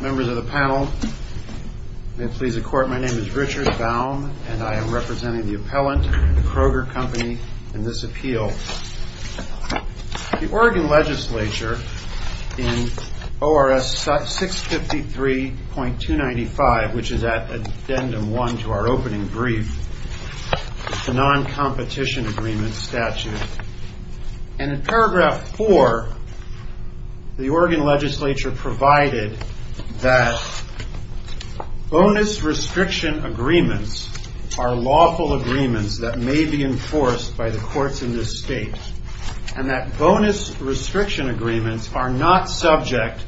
Members of the panel, may it please the Court, my name is Richard Baum and I am representing the appellant, the Kroger Company, in this appeal. The Oregon Legislature in ORS 653.295, which is addendum 1 to our opening brief, the non-competition agreement statute, and that bonus restriction agreements are lawful agreements that may be enforced by the courts in this state, and that bonus restriction agreements are not subject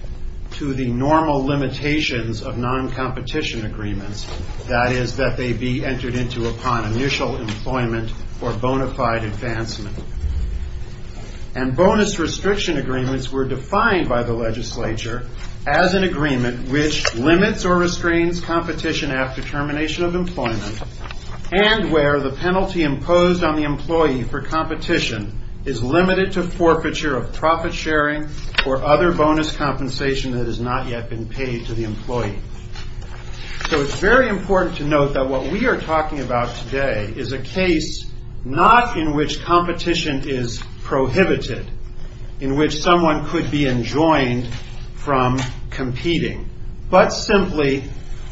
to the normal limitations of non-competition agreements, that is, that they be entered into upon initial employment or bona fide advancement. And bonus restriction agreements were defined by the legislature as an agreement which limits or restrains competition after termination of employment, and where the penalty imposed on the employee for competition is limited to forfeiture of profit sharing or other bonus compensation that has not yet been paid to the employee. So it's very important to note that what we are talking about today is a case not in which the employee is exempt from competing, but simply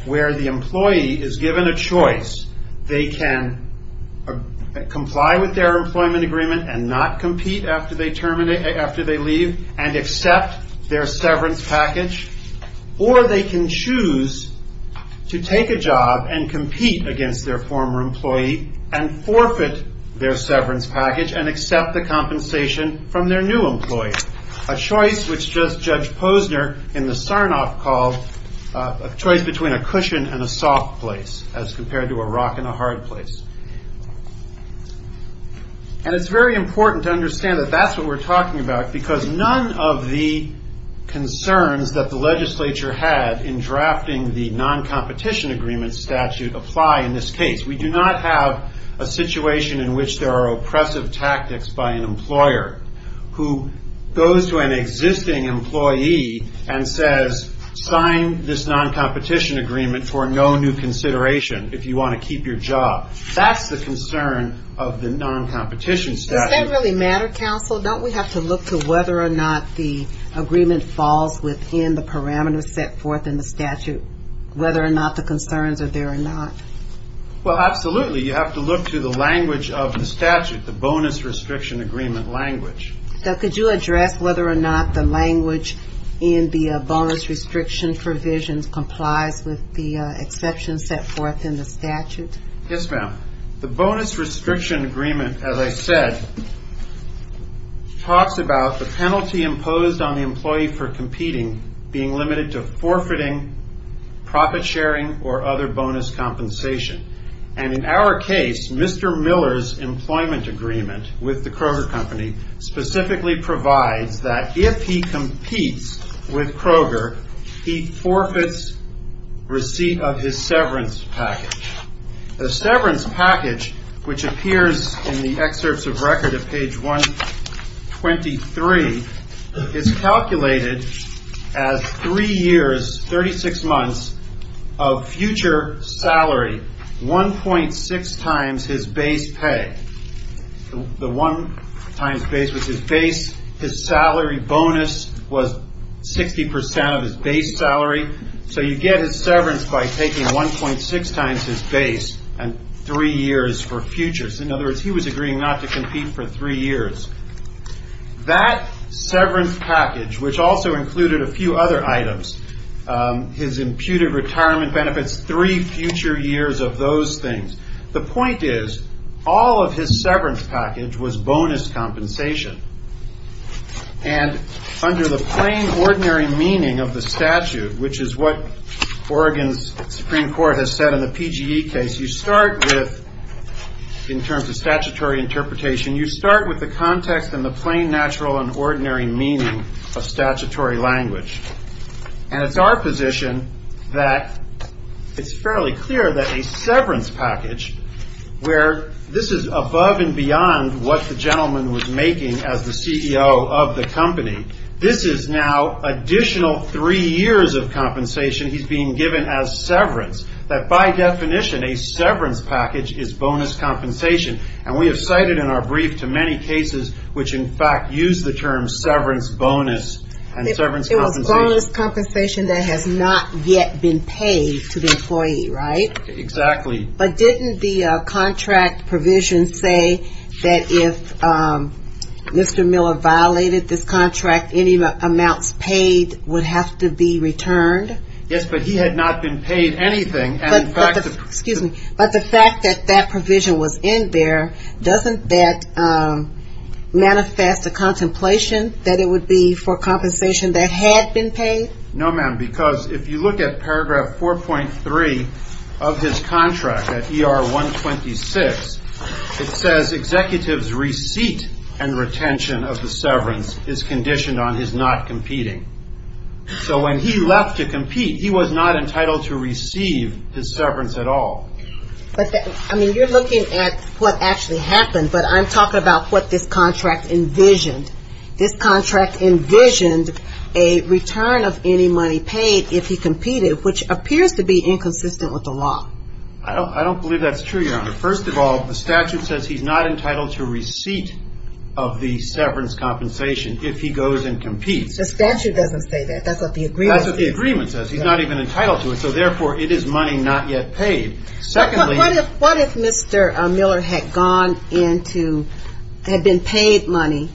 where the employee is given a choice. They can comply with their employment agreement and not compete after they leave and accept their severance package, or they can choose to take a job and compete against their former employee and forfeit their severance package and accept the compensation from their new employee. A choice which Judge Posner in the Sarnoff called a choice between a cushion and a soft place as compared to a rock and a hard place. And it's very important to understand that that's what we're talking about because none of the concerns that the legislature had in drafting the non-competition agreement statute apply in this case. We do not have a situation in which there are oppressive tactics by an employee that goes to an existing employee and says, sign this non-competition agreement for no new consideration if you want to keep your job. That's the concern of the non-competition statute. Does that really matter, counsel? Don't we have to look to whether or not the agreement falls within the parameters set forth in the statute, whether or not the concerns are there or not? Well, absolutely. You have to look to the language of the statute, the bonus restriction agreement language. So could you address whether or not the language in the bonus restriction provisions complies with the exceptions set forth in the statute? Yes, ma'am. The bonus restriction agreement, as I said, talks about the penalty imposed on the employee for competing being limited to forfeiting, profit sharing, or other bonus compensation. And in our case, Mr. Miller's employment agreement with the Kroger Company specifically provides that if he competes with Kroger, he forfeits receipt of his severance package. The severance package, which appears in the excerpts of record at page 123, is calculated as three years, 36 months, of future salary, 1.6 times his base pay. The 1 times Kroger base was his base. His salary bonus was 60% of his base salary. So you get his severance by taking 1.6 times his base and three years for futures. In other words, he was agreeing not to compete for three years. That severance package, which also included a few other items, his imputed retirement benefits, three future years of those things. The point is, all of his severance package was bonus compensation. And under the plain, ordinary meaning of the statute, which is what Oregon's Supreme Court has said in the PGE case, you start with, in terms of statutory interpretation, you start with the context and the plain, natural, and ordinary meaning of statutory language. And it's our position that it's fairly clear that a severance package, where this is above and beyond what the gentleman was making as the CEO of the company, this is now additional three years of compensation he's being given as severance. That by definition, a severance package is bonus compensation. And we have cited in our brief to many cases, which in fact use the term severance bonus and severance compensation. It was bonus compensation that has not yet been paid to the employee, right? Exactly. But didn't the contract provision say that if Mr. Miller violated this contract, any amounts paid would have to be returned? Yes, but he had not been paid anything. But the fact that that provision was in there, doesn't that manifest a contemplation that it would be for compensation that had been paid? No, ma'am, because if you look at paragraph 4.3 of his contract, at ER 126, it says executives' receipt and retention of the severance is conditioned on his not competing. So when he left to compete, he was not entitled to receive his severance at all. I mean, you're looking at what actually happened, but I'm talking about what this contract envisioned. This contract envisioned a return of any money paid if he competed, which appears to be inconsistent with the law. I don't believe that's true, Your Honor. First of all, the statute says he's not entitled to receipt of the severance compensation if he goes and competes. The statute doesn't say that. That's what the agreement says. That's what the agreement says. He's not even entitled to it, so therefore it is money not yet paid. What if Mr. Miller had gone into, had been paid money,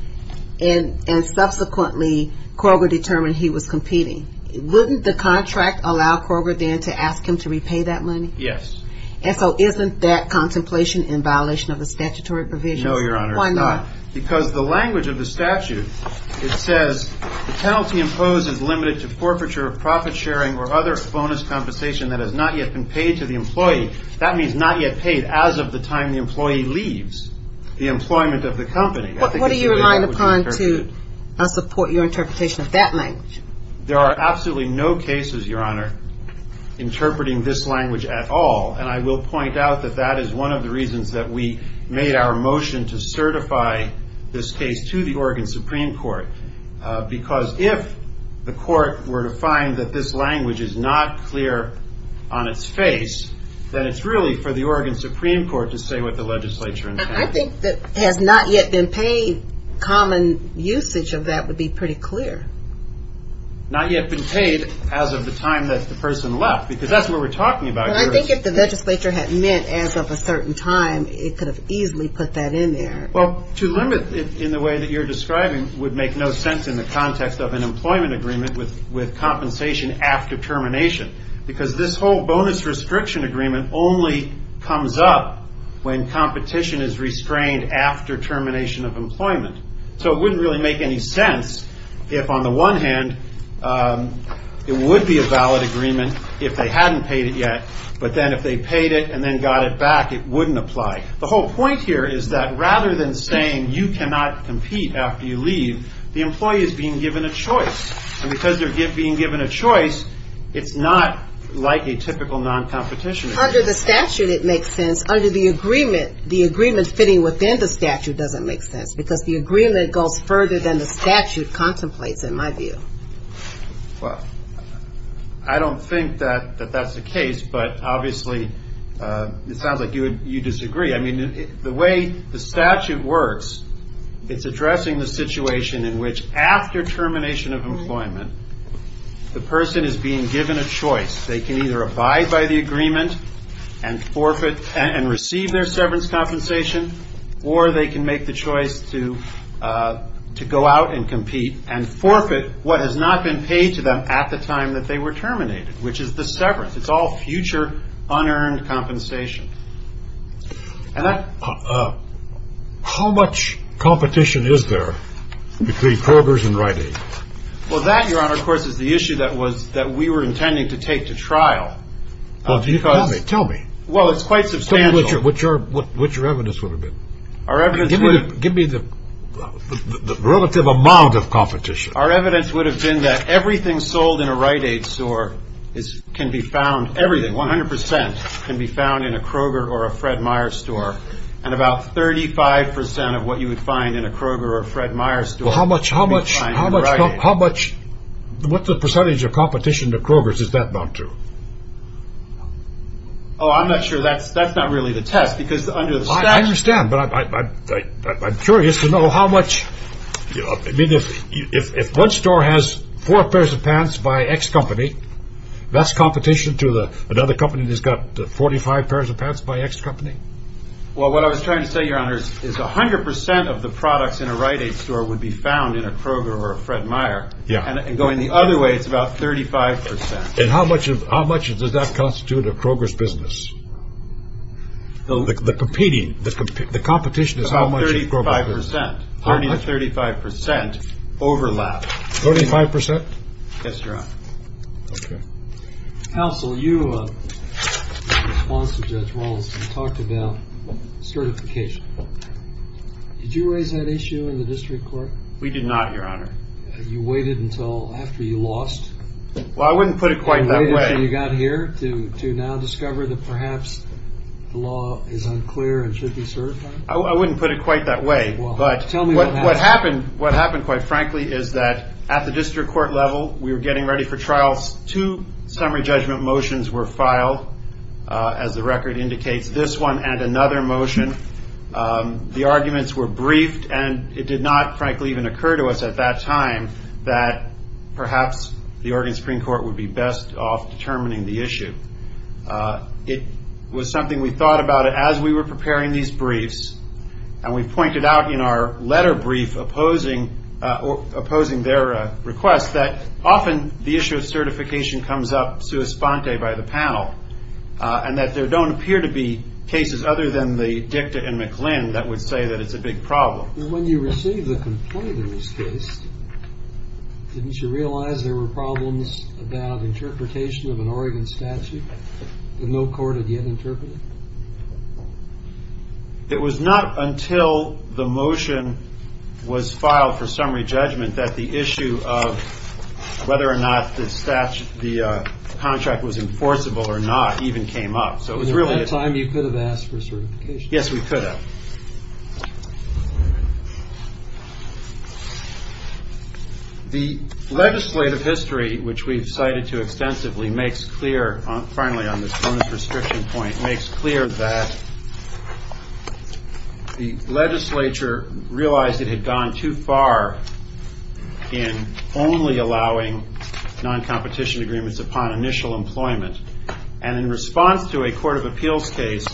and subsequently, Kroger determined he was competing? Wouldn't the contract allow Kroger then to ask him to repay that money? Yes. And so isn't that contemplation in violation of the statutory provisions? No, Your Honor. Why not? Because the language of the statute, it says the penalty imposed is limited to forfeiture of profit sharing or other bonus compensation that has not yet been paid to the employee. That means not yet paid as of the time the employee leaves the employment of the company. What are you relying upon to support your interpretation of that language? There are absolutely no cases, Your Honor, interpreting this language at all, and I will point out that that is one of the reasons that we made our motion to certify this case to the Oregon Supreme Court, because if the court were to find that this language is not clear on its face, then it's really for the Oregon Supreme Court to say what the legislature intended. I think that has not yet been paid, common usage of that would be pretty clear. Not yet been paid as of the time that the person left, because that's what we're talking about here. But I think if the legislature had meant as of a certain time, it could have easily put that in there. Well, to limit it in the way that you're describing would make no sense in the context of an employment agreement with compensation after termination, because this whole bonus restriction agreement only comes up when competition is restrained after termination of employment. So it wouldn't really make any sense if, on the one hand, it would be a valid agreement if they hadn't paid it yet, but then if they paid it and then got it back, it wouldn't apply. The whole point here is that rather than saying you cannot compete after you leave, the employee is being given a choice, and because they're being given a choice, it's not like a typical non-competition. Under the statute, it makes sense. Under the agreement, the agreement fitting within the statute doesn't make sense because the agreement goes further than the statute contemplates, in my view. Well, I don't think that that's the case, but obviously it sounds like you disagree. I mean, the way the statute works, it's addressing the situation in which after termination of employment, the person is being given a choice. They can either abide by the agreement and forfeit and receive their severance compensation, or they can make the choice to go out and compete and forfeit what has not been paid to them at the time that they were terminated, which is the severance. It's all future unearned compensation. And how much competition is there between Kroger's and Rite Aid? Well, that, Your Honor, of course, is the issue that was that we were intending to take to trial. Well, tell me, tell me. Well, it's quite substantial. What your evidence would have been? Our evidence would have been. Give me the relative amount of competition. Our evidence would have been that everything sold in a Rite Aid store can be found, everything, 100 percent can be found in a Kroger or a Fred Meyer store and about 35 percent of what you would find in a Kroger or a Fred Meyer store. How much, how much, how much, how much, what's the percentage of competition to Kroger's? Is that not true? Oh, I'm not sure that's that's not really the test, because under the statute. I understand, but I'm curious to know how much, I mean, if one store has four pairs of pants by X company, that's competition to the another company that's got 45 pairs of pants by X company. Well, what I was trying to say, Your Honor, is 100 percent of the products in a Rite Aid store would be found in a Kroger or a Fred Meyer. Yeah. And going the other way, it's about 35 percent. And how much of how much does that constitute a Kroger's business? The competing, the competition is how much? Thirty five percent, thirty five percent overlap. Thirty five percent? Yes, Your Honor. Counsel, you talked about certification. Did you raise that issue in the district court? We did not, Your Honor. You waited until after you lost? Well, I wouldn't put it quite that way. You got here to to now discover that perhaps the law is unclear and should be certified? I wouldn't put it quite that way. But tell me what happened. What happened, quite frankly, is that at the district court level, we were getting ready for trials. Two summary judgment motions were filed, as the record indicates, this one and another motion. The arguments were briefed and it did not, frankly, even occur to us at that time that perhaps the Oregon Supreme Court would be best off determining the issue. It was something we thought about it as we were preparing these briefs and we pointed out in our letter brief opposing opposing their request that often the issue of certification comes up sui sponte by the panel and that there don't appear to be cases other than the Dicta and McLinn that would say that it's a big problem. When you received the complaint in this case, didn't you realize there were problems about interpretation of an Oregon statute that no court had yet interpreted? It was not until the motion was filed for summary judgment that the issue of whether or not the statute, the contract was enforceable or not even came up. So it was really a time you could have asked for certification. Yes, we could have. The legislative history, which we've cited to extensively, makes clear, finally on this bonus restriction point, makes clear that the legislature realized it had gone too far in only allowing non-competition agreements upon initial employment. And in response to a court of appeals case,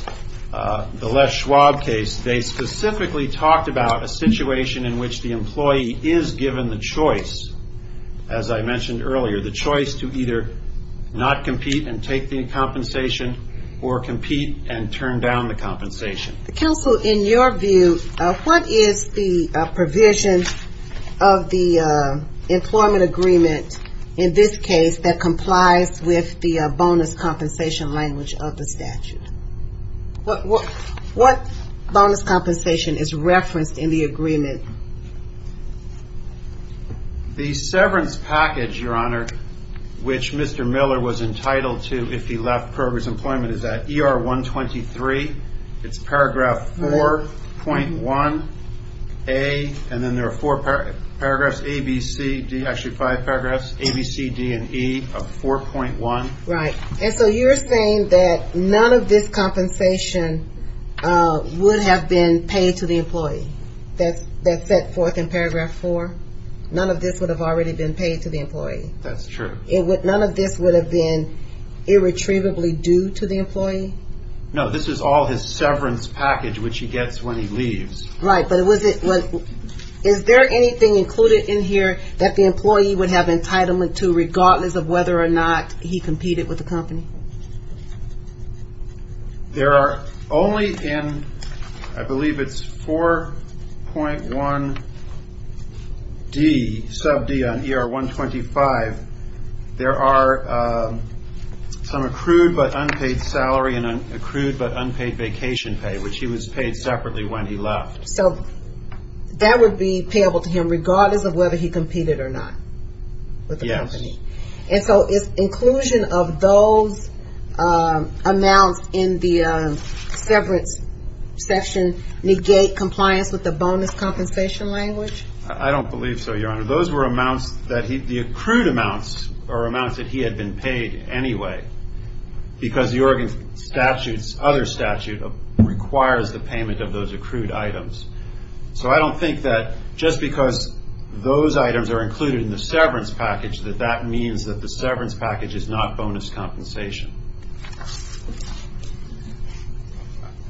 the Les Schwab case, they specifically talked about a situation in which the employee is given the choice, as I mentioned earlier, the choice to either not compete and take the compensation or compete and turn down the compensation. Counsel, in your view, what is the provision of the employment agreement in this case that complies with the bonus compensation language of the statute? What bonus compensation is referenced in the agreement? The severance package, Your Honor, which Mr. Miller was entitled to if he left progress employment, is that ER 123, it's paragraph 4.1A, and then there are four paragraphs, A, B, C, D, actually five paragraphs, A, B, C, D, and E of 4.1. Right. And so you're saying that none of this compensation would have been paid to the employee? That's that set forth in paragraph four. None of this would have already been paid to the employee. That's true. It would. None of this would have been irretrievably due to the employee. No, this is all his severance package, which he gets when he leaves. Right. But was it was. Is there anything included in here that the employee would have entitlement to, regardless of whether or not he competed with the company? There are only in, I believe it's 4.1D, sub D on ER 125, there are some accrued but unpaid salary and accrued but unpaid vacation pay, which he was paid separately when he left. So that would be payable to him regardless of whether he competed or not with the employees. Amounts in the severance section negate compliance with the bonus compensation language? I don't believe so, Your Honor. Those were amounts that the accrued amounts are amounts that he had been paid anyway because the Oregon statute's other statute requires the payment of those accrued items. So I don't think that just because those items are included in the severance package that that means that the severance package is not bonus compensation.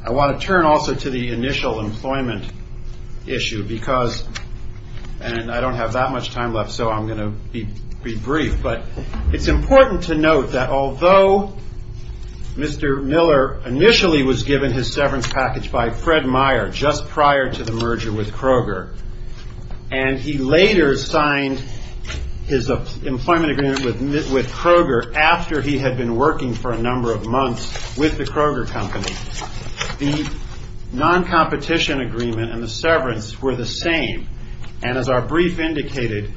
I want to turn also to the initial employment issue because and I don't have that much time left, so I'm going to be brief. But it's important to note that although Mr. Miller initially was given his severance package by Fred Meyer just prior to the employment agreement with Kroger after he had been working for a number of months with the Kroger company, the non-competition agreement and the severance were the same. And as our brief indicated,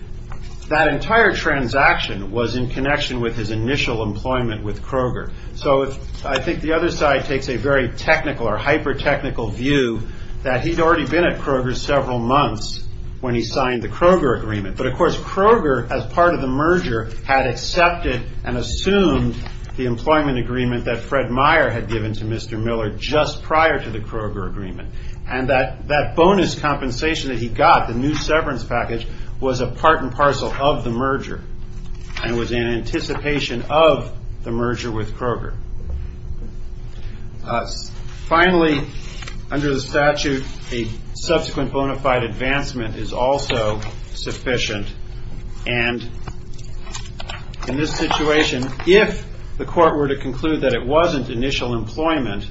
that entire transaction was in connection with his initial employment with Kroger. So I think the other side takes a very technical or hyper technical view that he'd already been at Kroger several months when he signed the Kroger agreement. But of course, Kroger, as part of the merger, had accepted and assumed the employment agreement that Fred Meyer had given to Mr. Miller just prior to the Kroger agreement. And that bonus compensation that he got, the new severance package, was a part and parcel of the merger and was in anticipation of the merger with Kroger. Finally, under the statute, a subsequent bona fide advancement is also sufficient. And in this situation, if the court were to conclude that it wasn't initial employment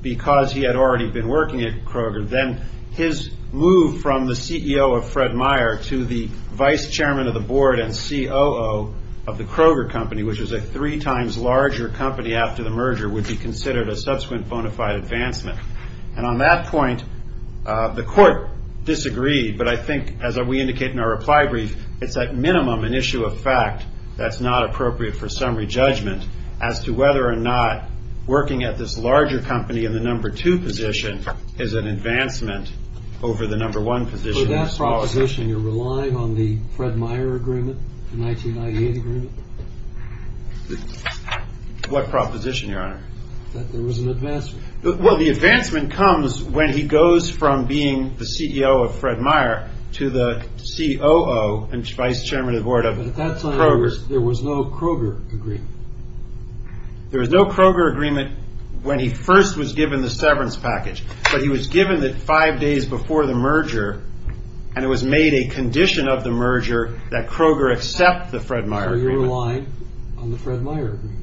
because he had already been working at Kroger, then his move from the CEO of Fred Meyer to the vice chairman of the board and COO of the Kroger company, which is a three times larger company after the merger, would be considered a subsequent bona fide advancement. And on that point, the court disagreed. But I think, as we indicate in our reply brief, it's at minimum an issue of fact that's not appropriate for summary judgment as to whether or not working at this larger company in the number two position is an advancement over the number one position. So that proposition, you're relying on the Fred Meyer agreement, the 1998 agreement? What proposition, your honor? That there was an advancement. Well, the advancement comes when he goes from being the CEO of Fred Meyer to the COO and vice chairman of the board of Kroger. There was no Kroger agreement. There was no Kroger agreement when he first was given the severance package, but he was and it was made a condition of the merger that Kroger accept the Fred Meyer agreement. So you're relying on the Fred Meyer agreement?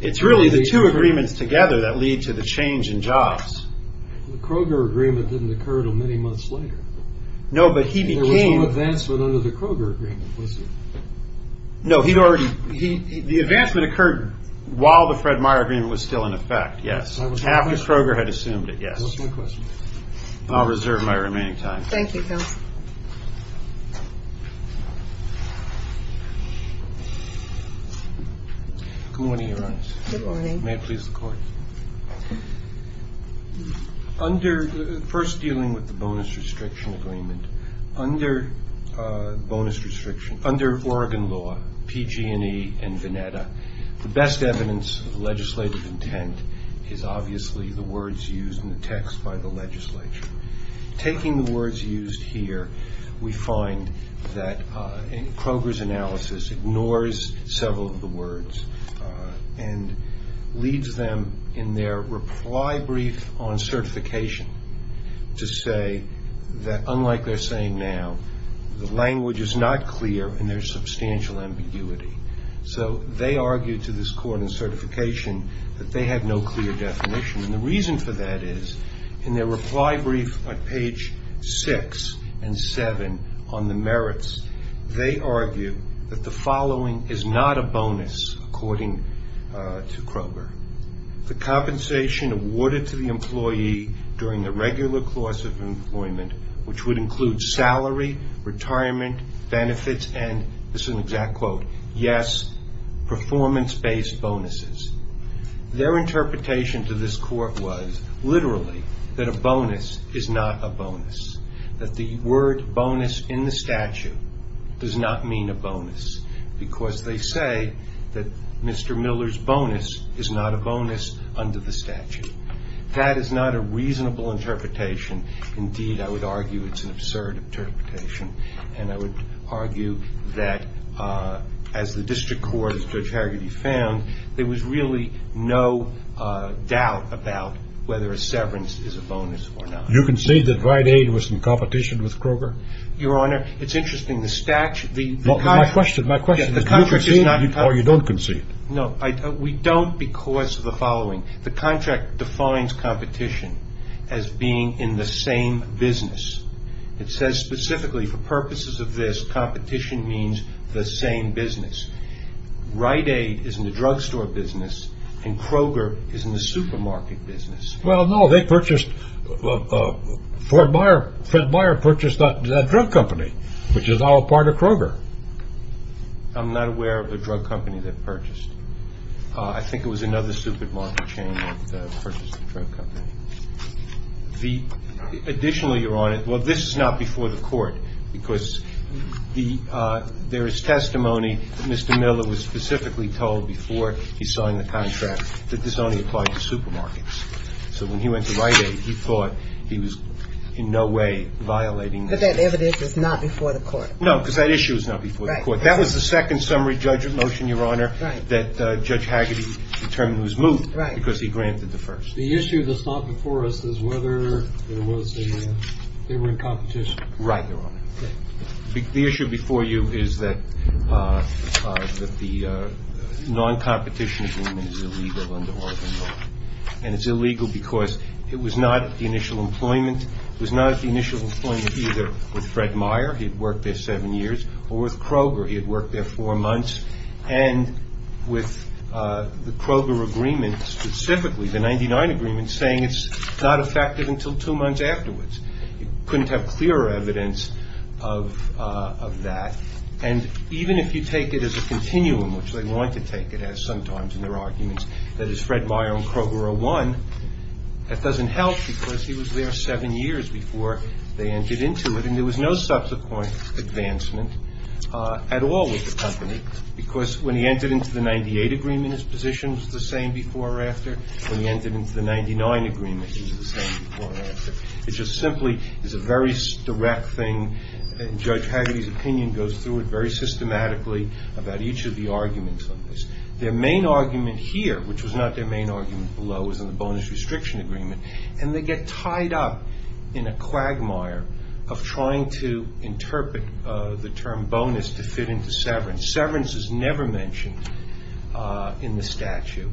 It's really the two agreements together that lead to the change in jobs. The Kroger agreement didn't occur until many months later. No, but he became. There was no advancement under the Kroger agreement, was there? No, he'd already, the advancement occurred while the Fred Meyer agreement was still in effect. Yes. Half the Kroger had assumed it. That's my question. I'll reserve my remaining time. Thank you, counsel. Good morning, Your Honors. May it please the court. Under first dealing with the bonus restriction agreement under bonus restriction under Oregon law, PG&E and Veneta, the best evidence of legislative intent is obviously the words used in the text by the legislature. Taking the words used here, we find that Kroger's analysis ignores several of the words and leads them in their reply brief on certification to say that unlike they're saying now, the language is not clear and there's substantial ambiguity. So they argued to this court in certification that they had no clear definition. And the reason for that is in their reply brief on page six and seven on the merits, they argue that the following is not a bonus, according to Kroger, the compensation awarded to the employee during the regular course of employment, which would include salary, retirement benefits, and this is an exact quote, yes, performance based bonuses. Their interpretation to this court was literally that a bonus is not a bonus. That the word bonus in the statute does not mean a bonus because they say that Mr. Miller's bonus is not a bonus under the statute. That is not a reasonable interpretation. Indeed, I would argue it's an absurd interpretation. And I would argue that as the district court, as Judge Hargitay found, there was really no doubt about whether a severance is a bonus or not. You can say that Rite Aid was in competition with Kroger? Your Honor, it's interesting. The statute, the contract. My question, my question is do you concede or you don't concede? No, we don't because of the following. The contract defines competition as being in the same business. It says specifically for purposes of this, competition means the same business. Rite Aid is in the drugstore business and Kroger is in the supermarket business. Well, no, they purchased, Fred Meyer purchased that drug company, which is now a part of Kroger. I'm not aware of the drug company they purchased. I think it was another supermarket chain that purchased the drug company. The additional, Your Honor, well, this is not before the court because there is testimony that Mr. Miller was specifically told before he signed the contract that this only applied to supermarkets. So when he went to Rite Aid, he thought he was in no way violating. But that evidence is not before the court. No, because that issue is not before the court. That was the second summary judgment motion, Your Honor, that Judge Hargitay determined was moved because he granted the first. The issue that's not before us is whether there was a, they were in competition. Right, Your Honor. The issue before you is that the non-competition agreement is illegal under Oregon law, and it's illegal because it was not at the initial employment, it was not at the initial employment either with Fred Meyer, he'd worked there seven years, or with Kroger, he had worked there four months. And with the Kroger agreement specifically, the 99 agreement, saying it's not effective until two months afterwards. You couldn't have clearer evidence of that. And even if you take it as a continuum, which they want to take it as sometimes in their arguments, that is Fred Meyer and Kroger are one, that doesn't help because he was there seven years before they entered into it. And there was no subsequent advancement at all with the company. Because when he entered into the 98 agreement, his position was the same before or after. When he entered into the 99 agreement, he was the same before or after. It just simply is a very direct thing. Judge Hargitay's opinion goes through it very systematically about each of the arguments on this. Their main argument here, which was not their main argument below, was in the bonus restriction agreement. And they get tied up in a quagmire of trying to interpret the term bonus to fit into severance. Severance is never mentioned in the statute.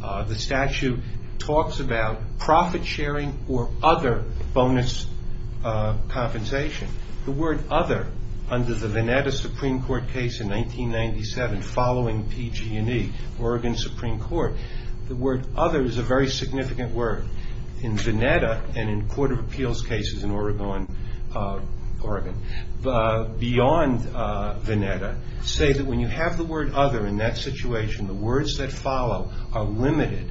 The statute talks about profit sharing or other bonus compensation. The word other under the Veneta Supreme Court case in 1997 following PG&E, Oregon Supreme Court, the word other is a very significant word in Veneta and in court of When you have the word other in that situation, the words that follow are limited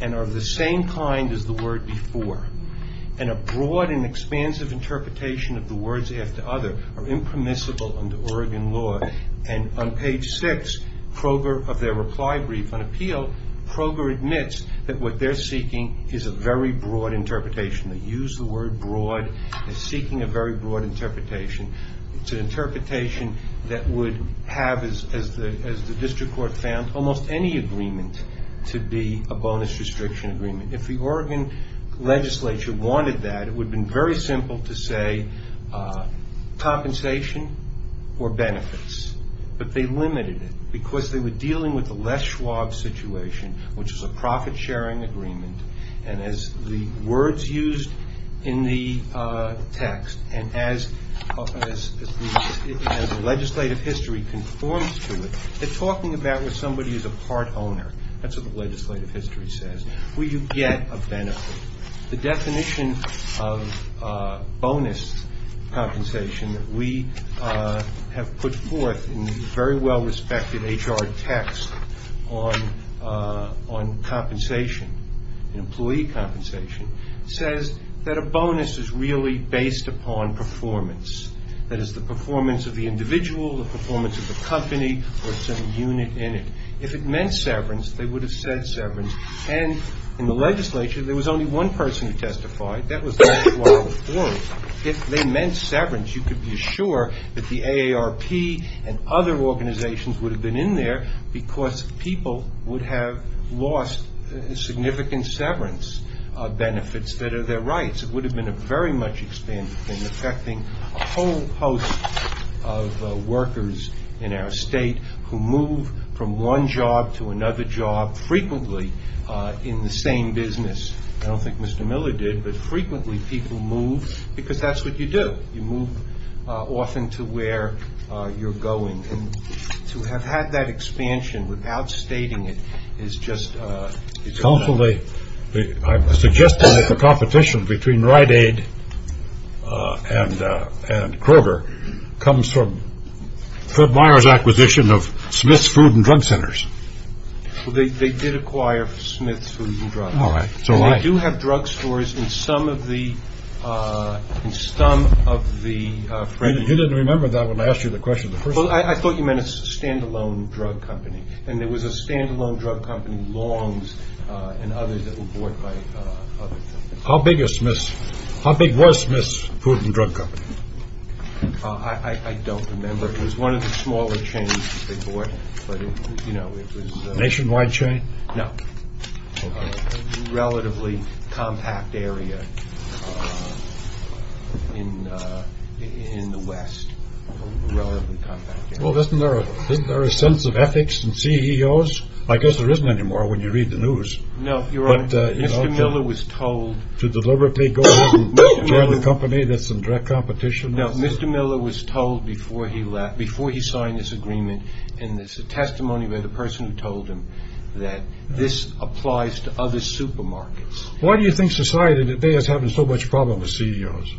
and are of the same kind as the word before. And a broad and expansive interpretation of the words after other are impermissible under Oregon law. And on page six, Kroger of their reply brief on appeal, Kroger admits that what they're seeking is a very broad interpretation. They use the word broad as seeking a very broad interpretation. It's an interpretation that would have, as the district court found, almost any agreement to be a bonus restriction agreement. If the Oregon legislature wanted that, it would have been very simple to say compensation or benefits. But they limited it because they were dealing with a less Schwab situation, which is a profit sharing agreement. And as the words used in the text and as the legislative history conforms to it, they're talking about what somebody is a part owner. That's what the legislative history says. Will you get a benefit? The definition of bonus compensation that we have put forth in the very well respected HR text on compensation, employee compensation, says that a bonus is really based upon performance. That is the performance of the individual, the performance of the company or some unit in it. If it meant severance, they would have said severance. And in the legislature, there was only one person who testified. That was David Wilder Ford. If they meant severance, you could be sure that the AARP and other organizations would have been in there because people would have lost significant severance benefits that are their rights. It would have been a very much expanded thing, affecting a whole host of workers in our state who move from one job to another job frequently in the same business. I don't think Mr. Miller did, but frequently people move because that's what you do. You move often to where you're going and to have had that expansion without stating it is just it's also a suggestion that the competition between Rite Aid and Kroger comes from Fred Meyer's acquisition of Smith's Food and Drug Centers. They did acquire Smith's Food and Drug. All right. So I do have drugstores in some of the You didn't remember that when I asked you the question. Well, I thought you meant a standalone drug company and there was a standalone drug company, Long's, and others that were bought by other companies. How big was Smith's Food and Drug Company? I don't remember. It was one of the smaller chains that they bought, but, you know, it was A nationwide chain? No, a relatively compact area. In the West, a relatively compact area. Well, isn't there a sense of ethics in CEOs? I guess there isn't anymore when you read the news. No, Your Honor, Mr. Miller was told to deliberately go and join a company that's in direct competition. No, Mr. Miller was told before he left, before he signed this agreement, and there's a testimony by the person who told him that this applies to other supermarkets. Why do you think society today is having so much problem with CEOs?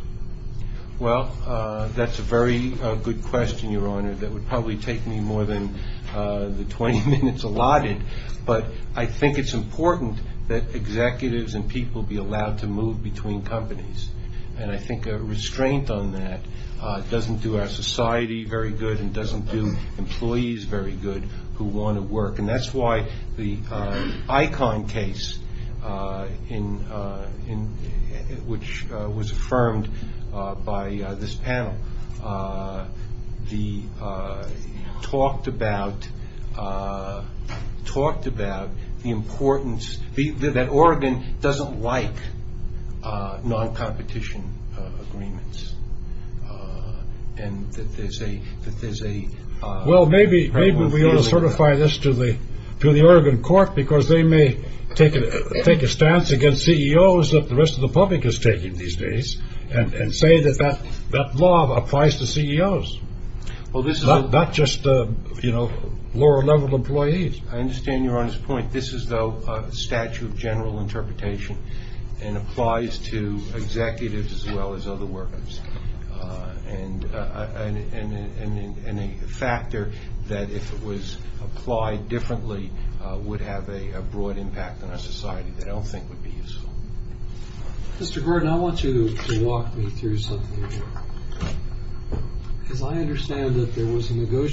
Well, that's a very good question, Your Honor. That would probably take me more than the 20 minutes allotted. But I think it's important that executives and people be allowed to move between companies. And I think a restraint on that doesn't do our society very good and doesn't do employees very good who want to work. And that's why the ICON case, which was affirmed by this panel, talked about the importance that Oregon doesn't like non-competition agreements. Well, maybe we ought to certify this to the Oregon court because they may take a stance against CEOs that the rest of the public is taking these days and say that that law applies to CEOs, not just lower level employees. I understand Your Honor's point. This is, though, a statute of general interpretation and applies to executives as well as other workers and a factor that, if it was applied differently, would have a broad impact on our society that I don't think would be useful. Mr. Gordon, I want you to walk me through something, because I understand that there was a merger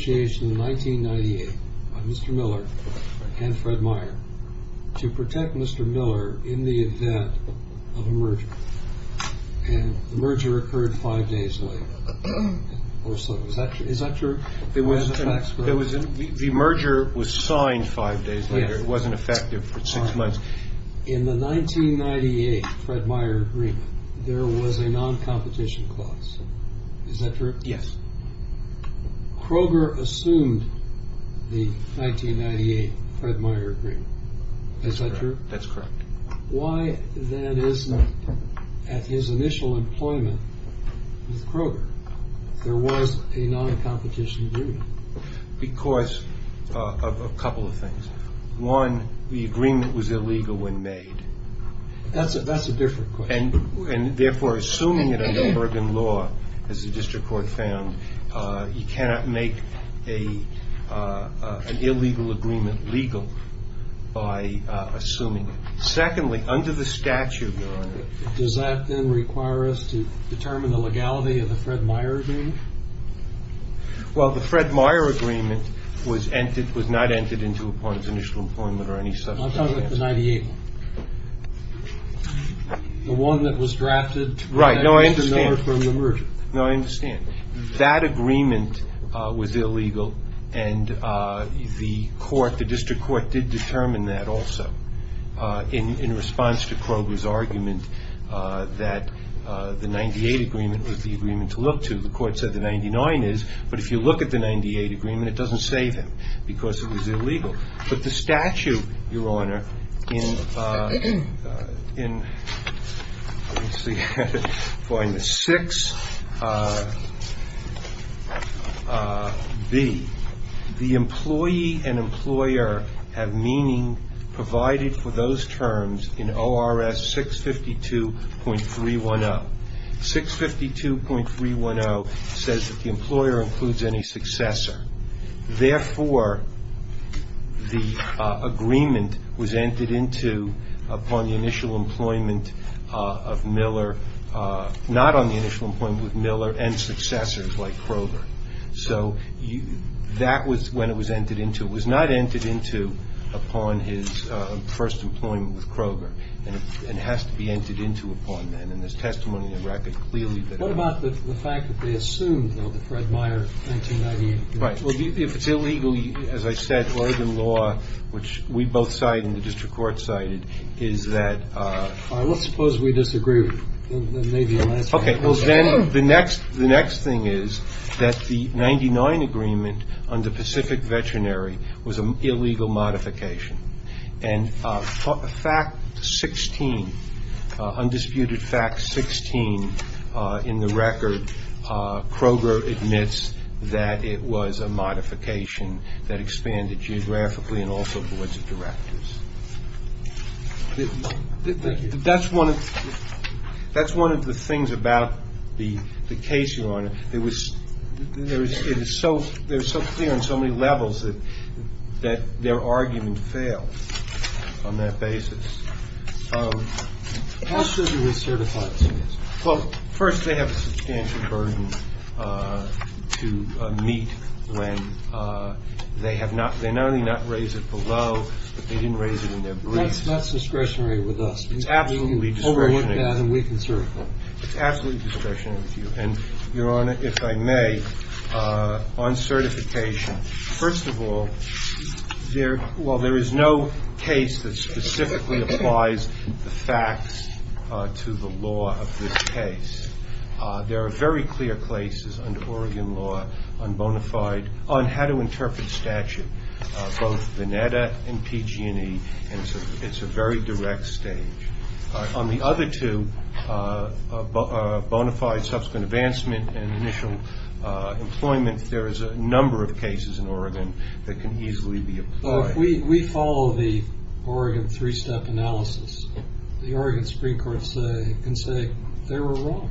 to protect Mr. Miller in the event of a merger and the merger occurred five days later or so. Is that true? It was. There was the merger was signed five days later. It wasn't effective for six months. In the 1998 Fred Meyer agreement, there was a non-competition clause. Is that true? Yes. Kroger assumed the 1998 Fred Meyer agreement. Is that true? That's correct. Why then is that at his initial employment with Kroger, there was a non-competition agreement? Because of a couple of things. One, the agreement was illegal when made. That's a that's a different question. And therefore, assuming it under Bergen law, as the district court found, you cannot make an illegal agreement legal by assuming it. Secondly, under the statute, does that then require us to determine the legality of the Fred Meyer agreement? Well, the Fred Meyer agreement was entered, was not entered into upon its initial appointment or any such. I'll talk about the 98. The one that was drafted. Right. No, I understand. No, I understand. That agreement was illegal. And the court, the district court did determine that also in response to Kroger's argument that the 98 agreement was the agreement to look to. The court said the 99 is. But if you look at the 98 agreement, it doesn't save him because it was illegal. But the statute, Your Honor, in in. Find the six. The the employee and employer have meaning provided for those terms in O.R.S. 652.310. 652.310 says that the employer includes any successor. Therefore, the agreement was entered into upon the initial employment of Miller, not on the initial employment with Miller and successors like Kroger. So that was when it was entered into. It was not entered into upon his first employment with Kroger. And it has to be entered into upon them. And there's testimony in the record clearly that. What about the fact that they assumed, though, that Fred Meyer. But if it's illegal, as I said, or the law, which we both side in the district court cited, is that let's suppose we disagree. OK, well, then the next the next thing is that the ninety nine agreement on the Pacific Veterinary was an illegal modification. And for a fact, 16 undisputed facts, 16 in the record. Kroger admits that it was a modification that expanded geographically and also boards of directors. That's one of that's one of the things about the the case, Your Honor. It was it was it was so there's so clear on so many levels that that their argument failed on that basis. So how should we certify it? Well, first, they have a substantial burden to meet when they have not been only not raise it below, but they didn't raise it in their briefs. That's discretionary with us. It's absolutely overworked and we can certify it's absolutely discretionary with you. And Your Honor, if I may, on certification, first of all, there well, there is no case that specifically applies the facts to the law of this case. There are very clear places under Oregon law on bona fide on how to interpret statute, both the NEDA and PG&E. And so it's a very direct stage on the other two bona fide subsequent advancement and initial employment. There is a number of cases in Oregon that can easily be. We follow the Oregon three step analysis. The Oregon Supreme Court say and say they were wrong.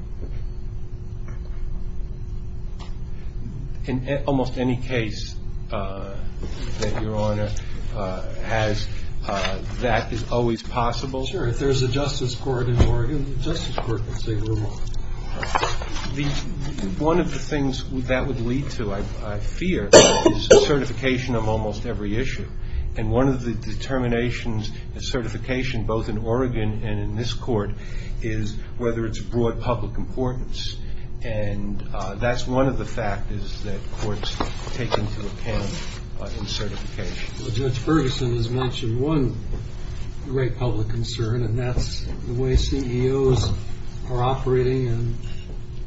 In almost any case that Your Honor has, that is always possible. Sure. If there's a justice court in Oregon, the justice court can say we're wrong. The one of the things that would lead to, I fear, is a certification of almost every issue. And one of the determinations of certification, both in Oregon and in this court, is whether it's broad public importance. And that's one of the factors that courts take into account in certification. Judge Ferguson has mentioned one great public concern, and that's the way CEOs are operating and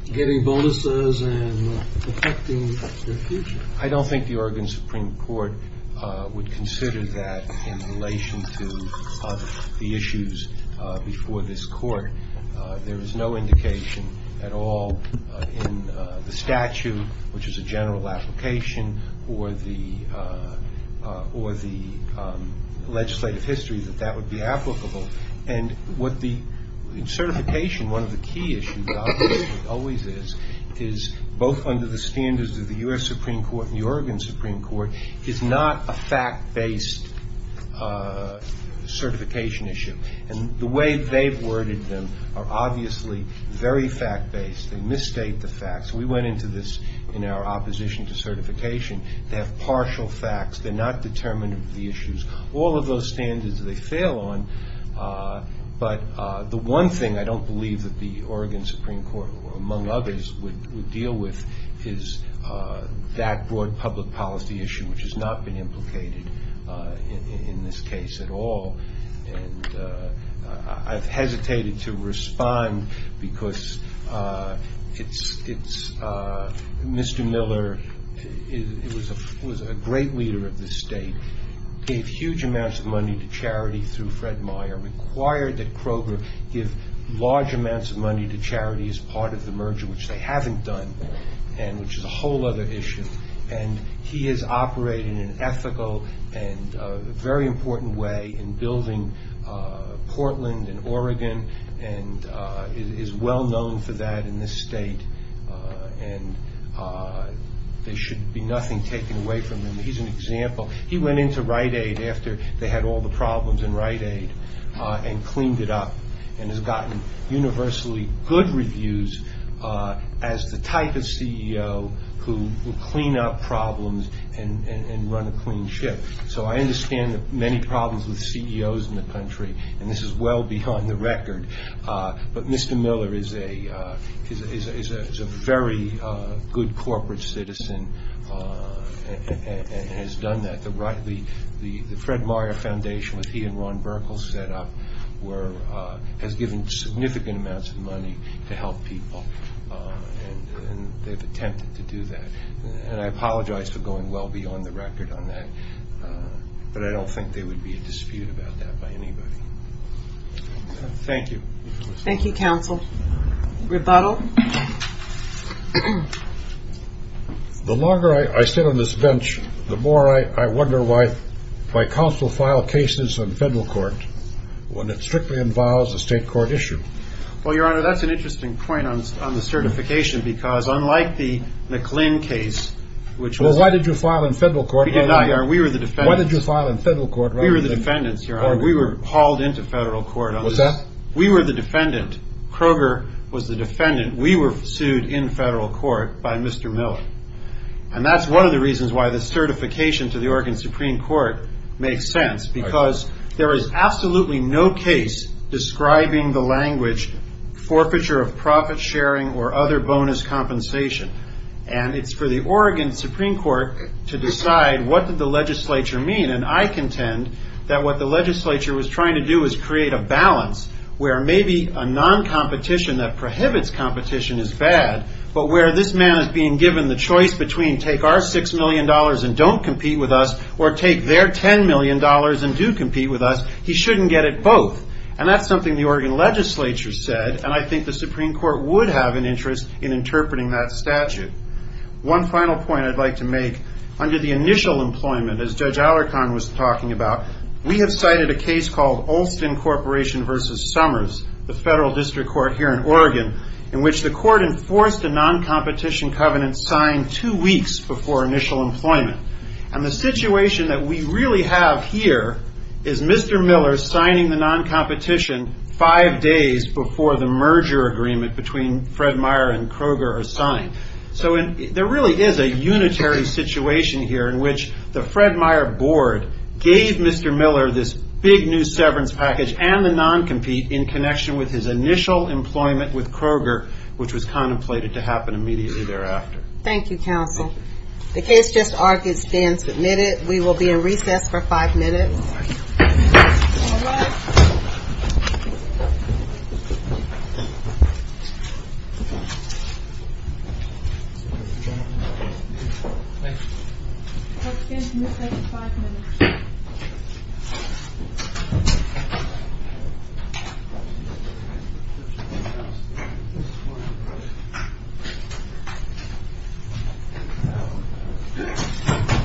getting bonuses and affecting the future. I don't think the Oregon Supreme Court would consider that in relation to the issues before this court. There is no indication at all in the statute, which is a general application, or the legislative history that that would be applicable. And what the certification, one of the key issues always is, is both under the standards of the U.S. Supreme Court and the Oregon Supreme Court, is not a fact based certification issue. And the way they've worded them are obviously very fact based. They misstate the facts. We went into this in our opposition to certification. They have partial facts. They're not determinative of the issues. All of those standards, they fail on. But the one thing I don't believe that the Oregon Supreme Court, among others, would deal with is that broad public policy issue, which has not been implicated in this case at all. And I've hesitated to respond because Mr. Miller was a great leader of this state, gave huge amounts of money to charity through Fred Meyer, required that Kroger give large amounts of money to charity as part of the merger, which they haven't done, and which is a whole other issue. And he has operated in an ethical and very important way in building Portland and Oregon and is well known for that in this state. And there should be nothing taken away from him. He's an example. He went into Rite Aid after they had all the problems in Rite Aid and cleaned it up and has gotten universally good reviews as the type of CEO who will clean up problems and run a clean ship. So I understand the many problems with CEOs in the country. And this is well beyond the record. But Mr. Miller is a very good corporate citizen and has done that. The Fred Meyer Foundation, which he and Ron Burkle set up, has given significant amounts of money to help people and they've attempted to do that. And I apologize for going well beyond the record on that, but I don't think there would be a dispute about that by anybody. Thank you. Thank you, counsel. Rebuttal. The longer I sit on this bench, the more I wonder why my counsel filed cases in federal court when it strictly involves a state court issue. Well, your honor, that's an interesting point on the certification, because unlike the McClain case, which was why did you file in federal court? We did not, your honor. We were the defendants. Why did you file in federal court? We were the defendants, your honor. We were hauled into federal court. Was that? We were the defendant. Kroger was the defendant. We were sued in federal court by Mr. Miller. And that's one of the reasons why the certification to the Oregon Supreme Court makes sense, because there is absolutely no case describing the language forfeiture of profit sharing or other bonus compensation. And it's for the Oregon Supreme Court to decide what did the legislature mean. And I contend that what the legislature was trying to do is create a balance where maybe a non-competition that prohibits competition is bad, but where this man is being given the choice between take our $6 million and don't compete with us or take their $10 million and do compete with us, he shouldn't get it both. And that's something the Oregon legislature said, and I think the Supreme Court would have an interest in interpreting that statute. One final point I'd like to make, under the initial employment, as Judge Alarcon was talking about, we have cited a case called Olston Corporation versus Summers, the federal district court here in Oregon, in which the court enforced a non-competition covenant signed two weeks before initial employment. And the situation that we really have here is Mr. Miller signing the non-competition five days before the merger agreement between Fred Meyer and Kroger are signed. So there really is a unitary situation here in which the Fred Meyer board gave Mr. Miller this big new severance package and the non-compete in connection with his initial employment with Kroger, which was contemplated to happen immediately thereafter. Thank you, counsel. The case just argued is being submitted. We will be in recess for five minutes.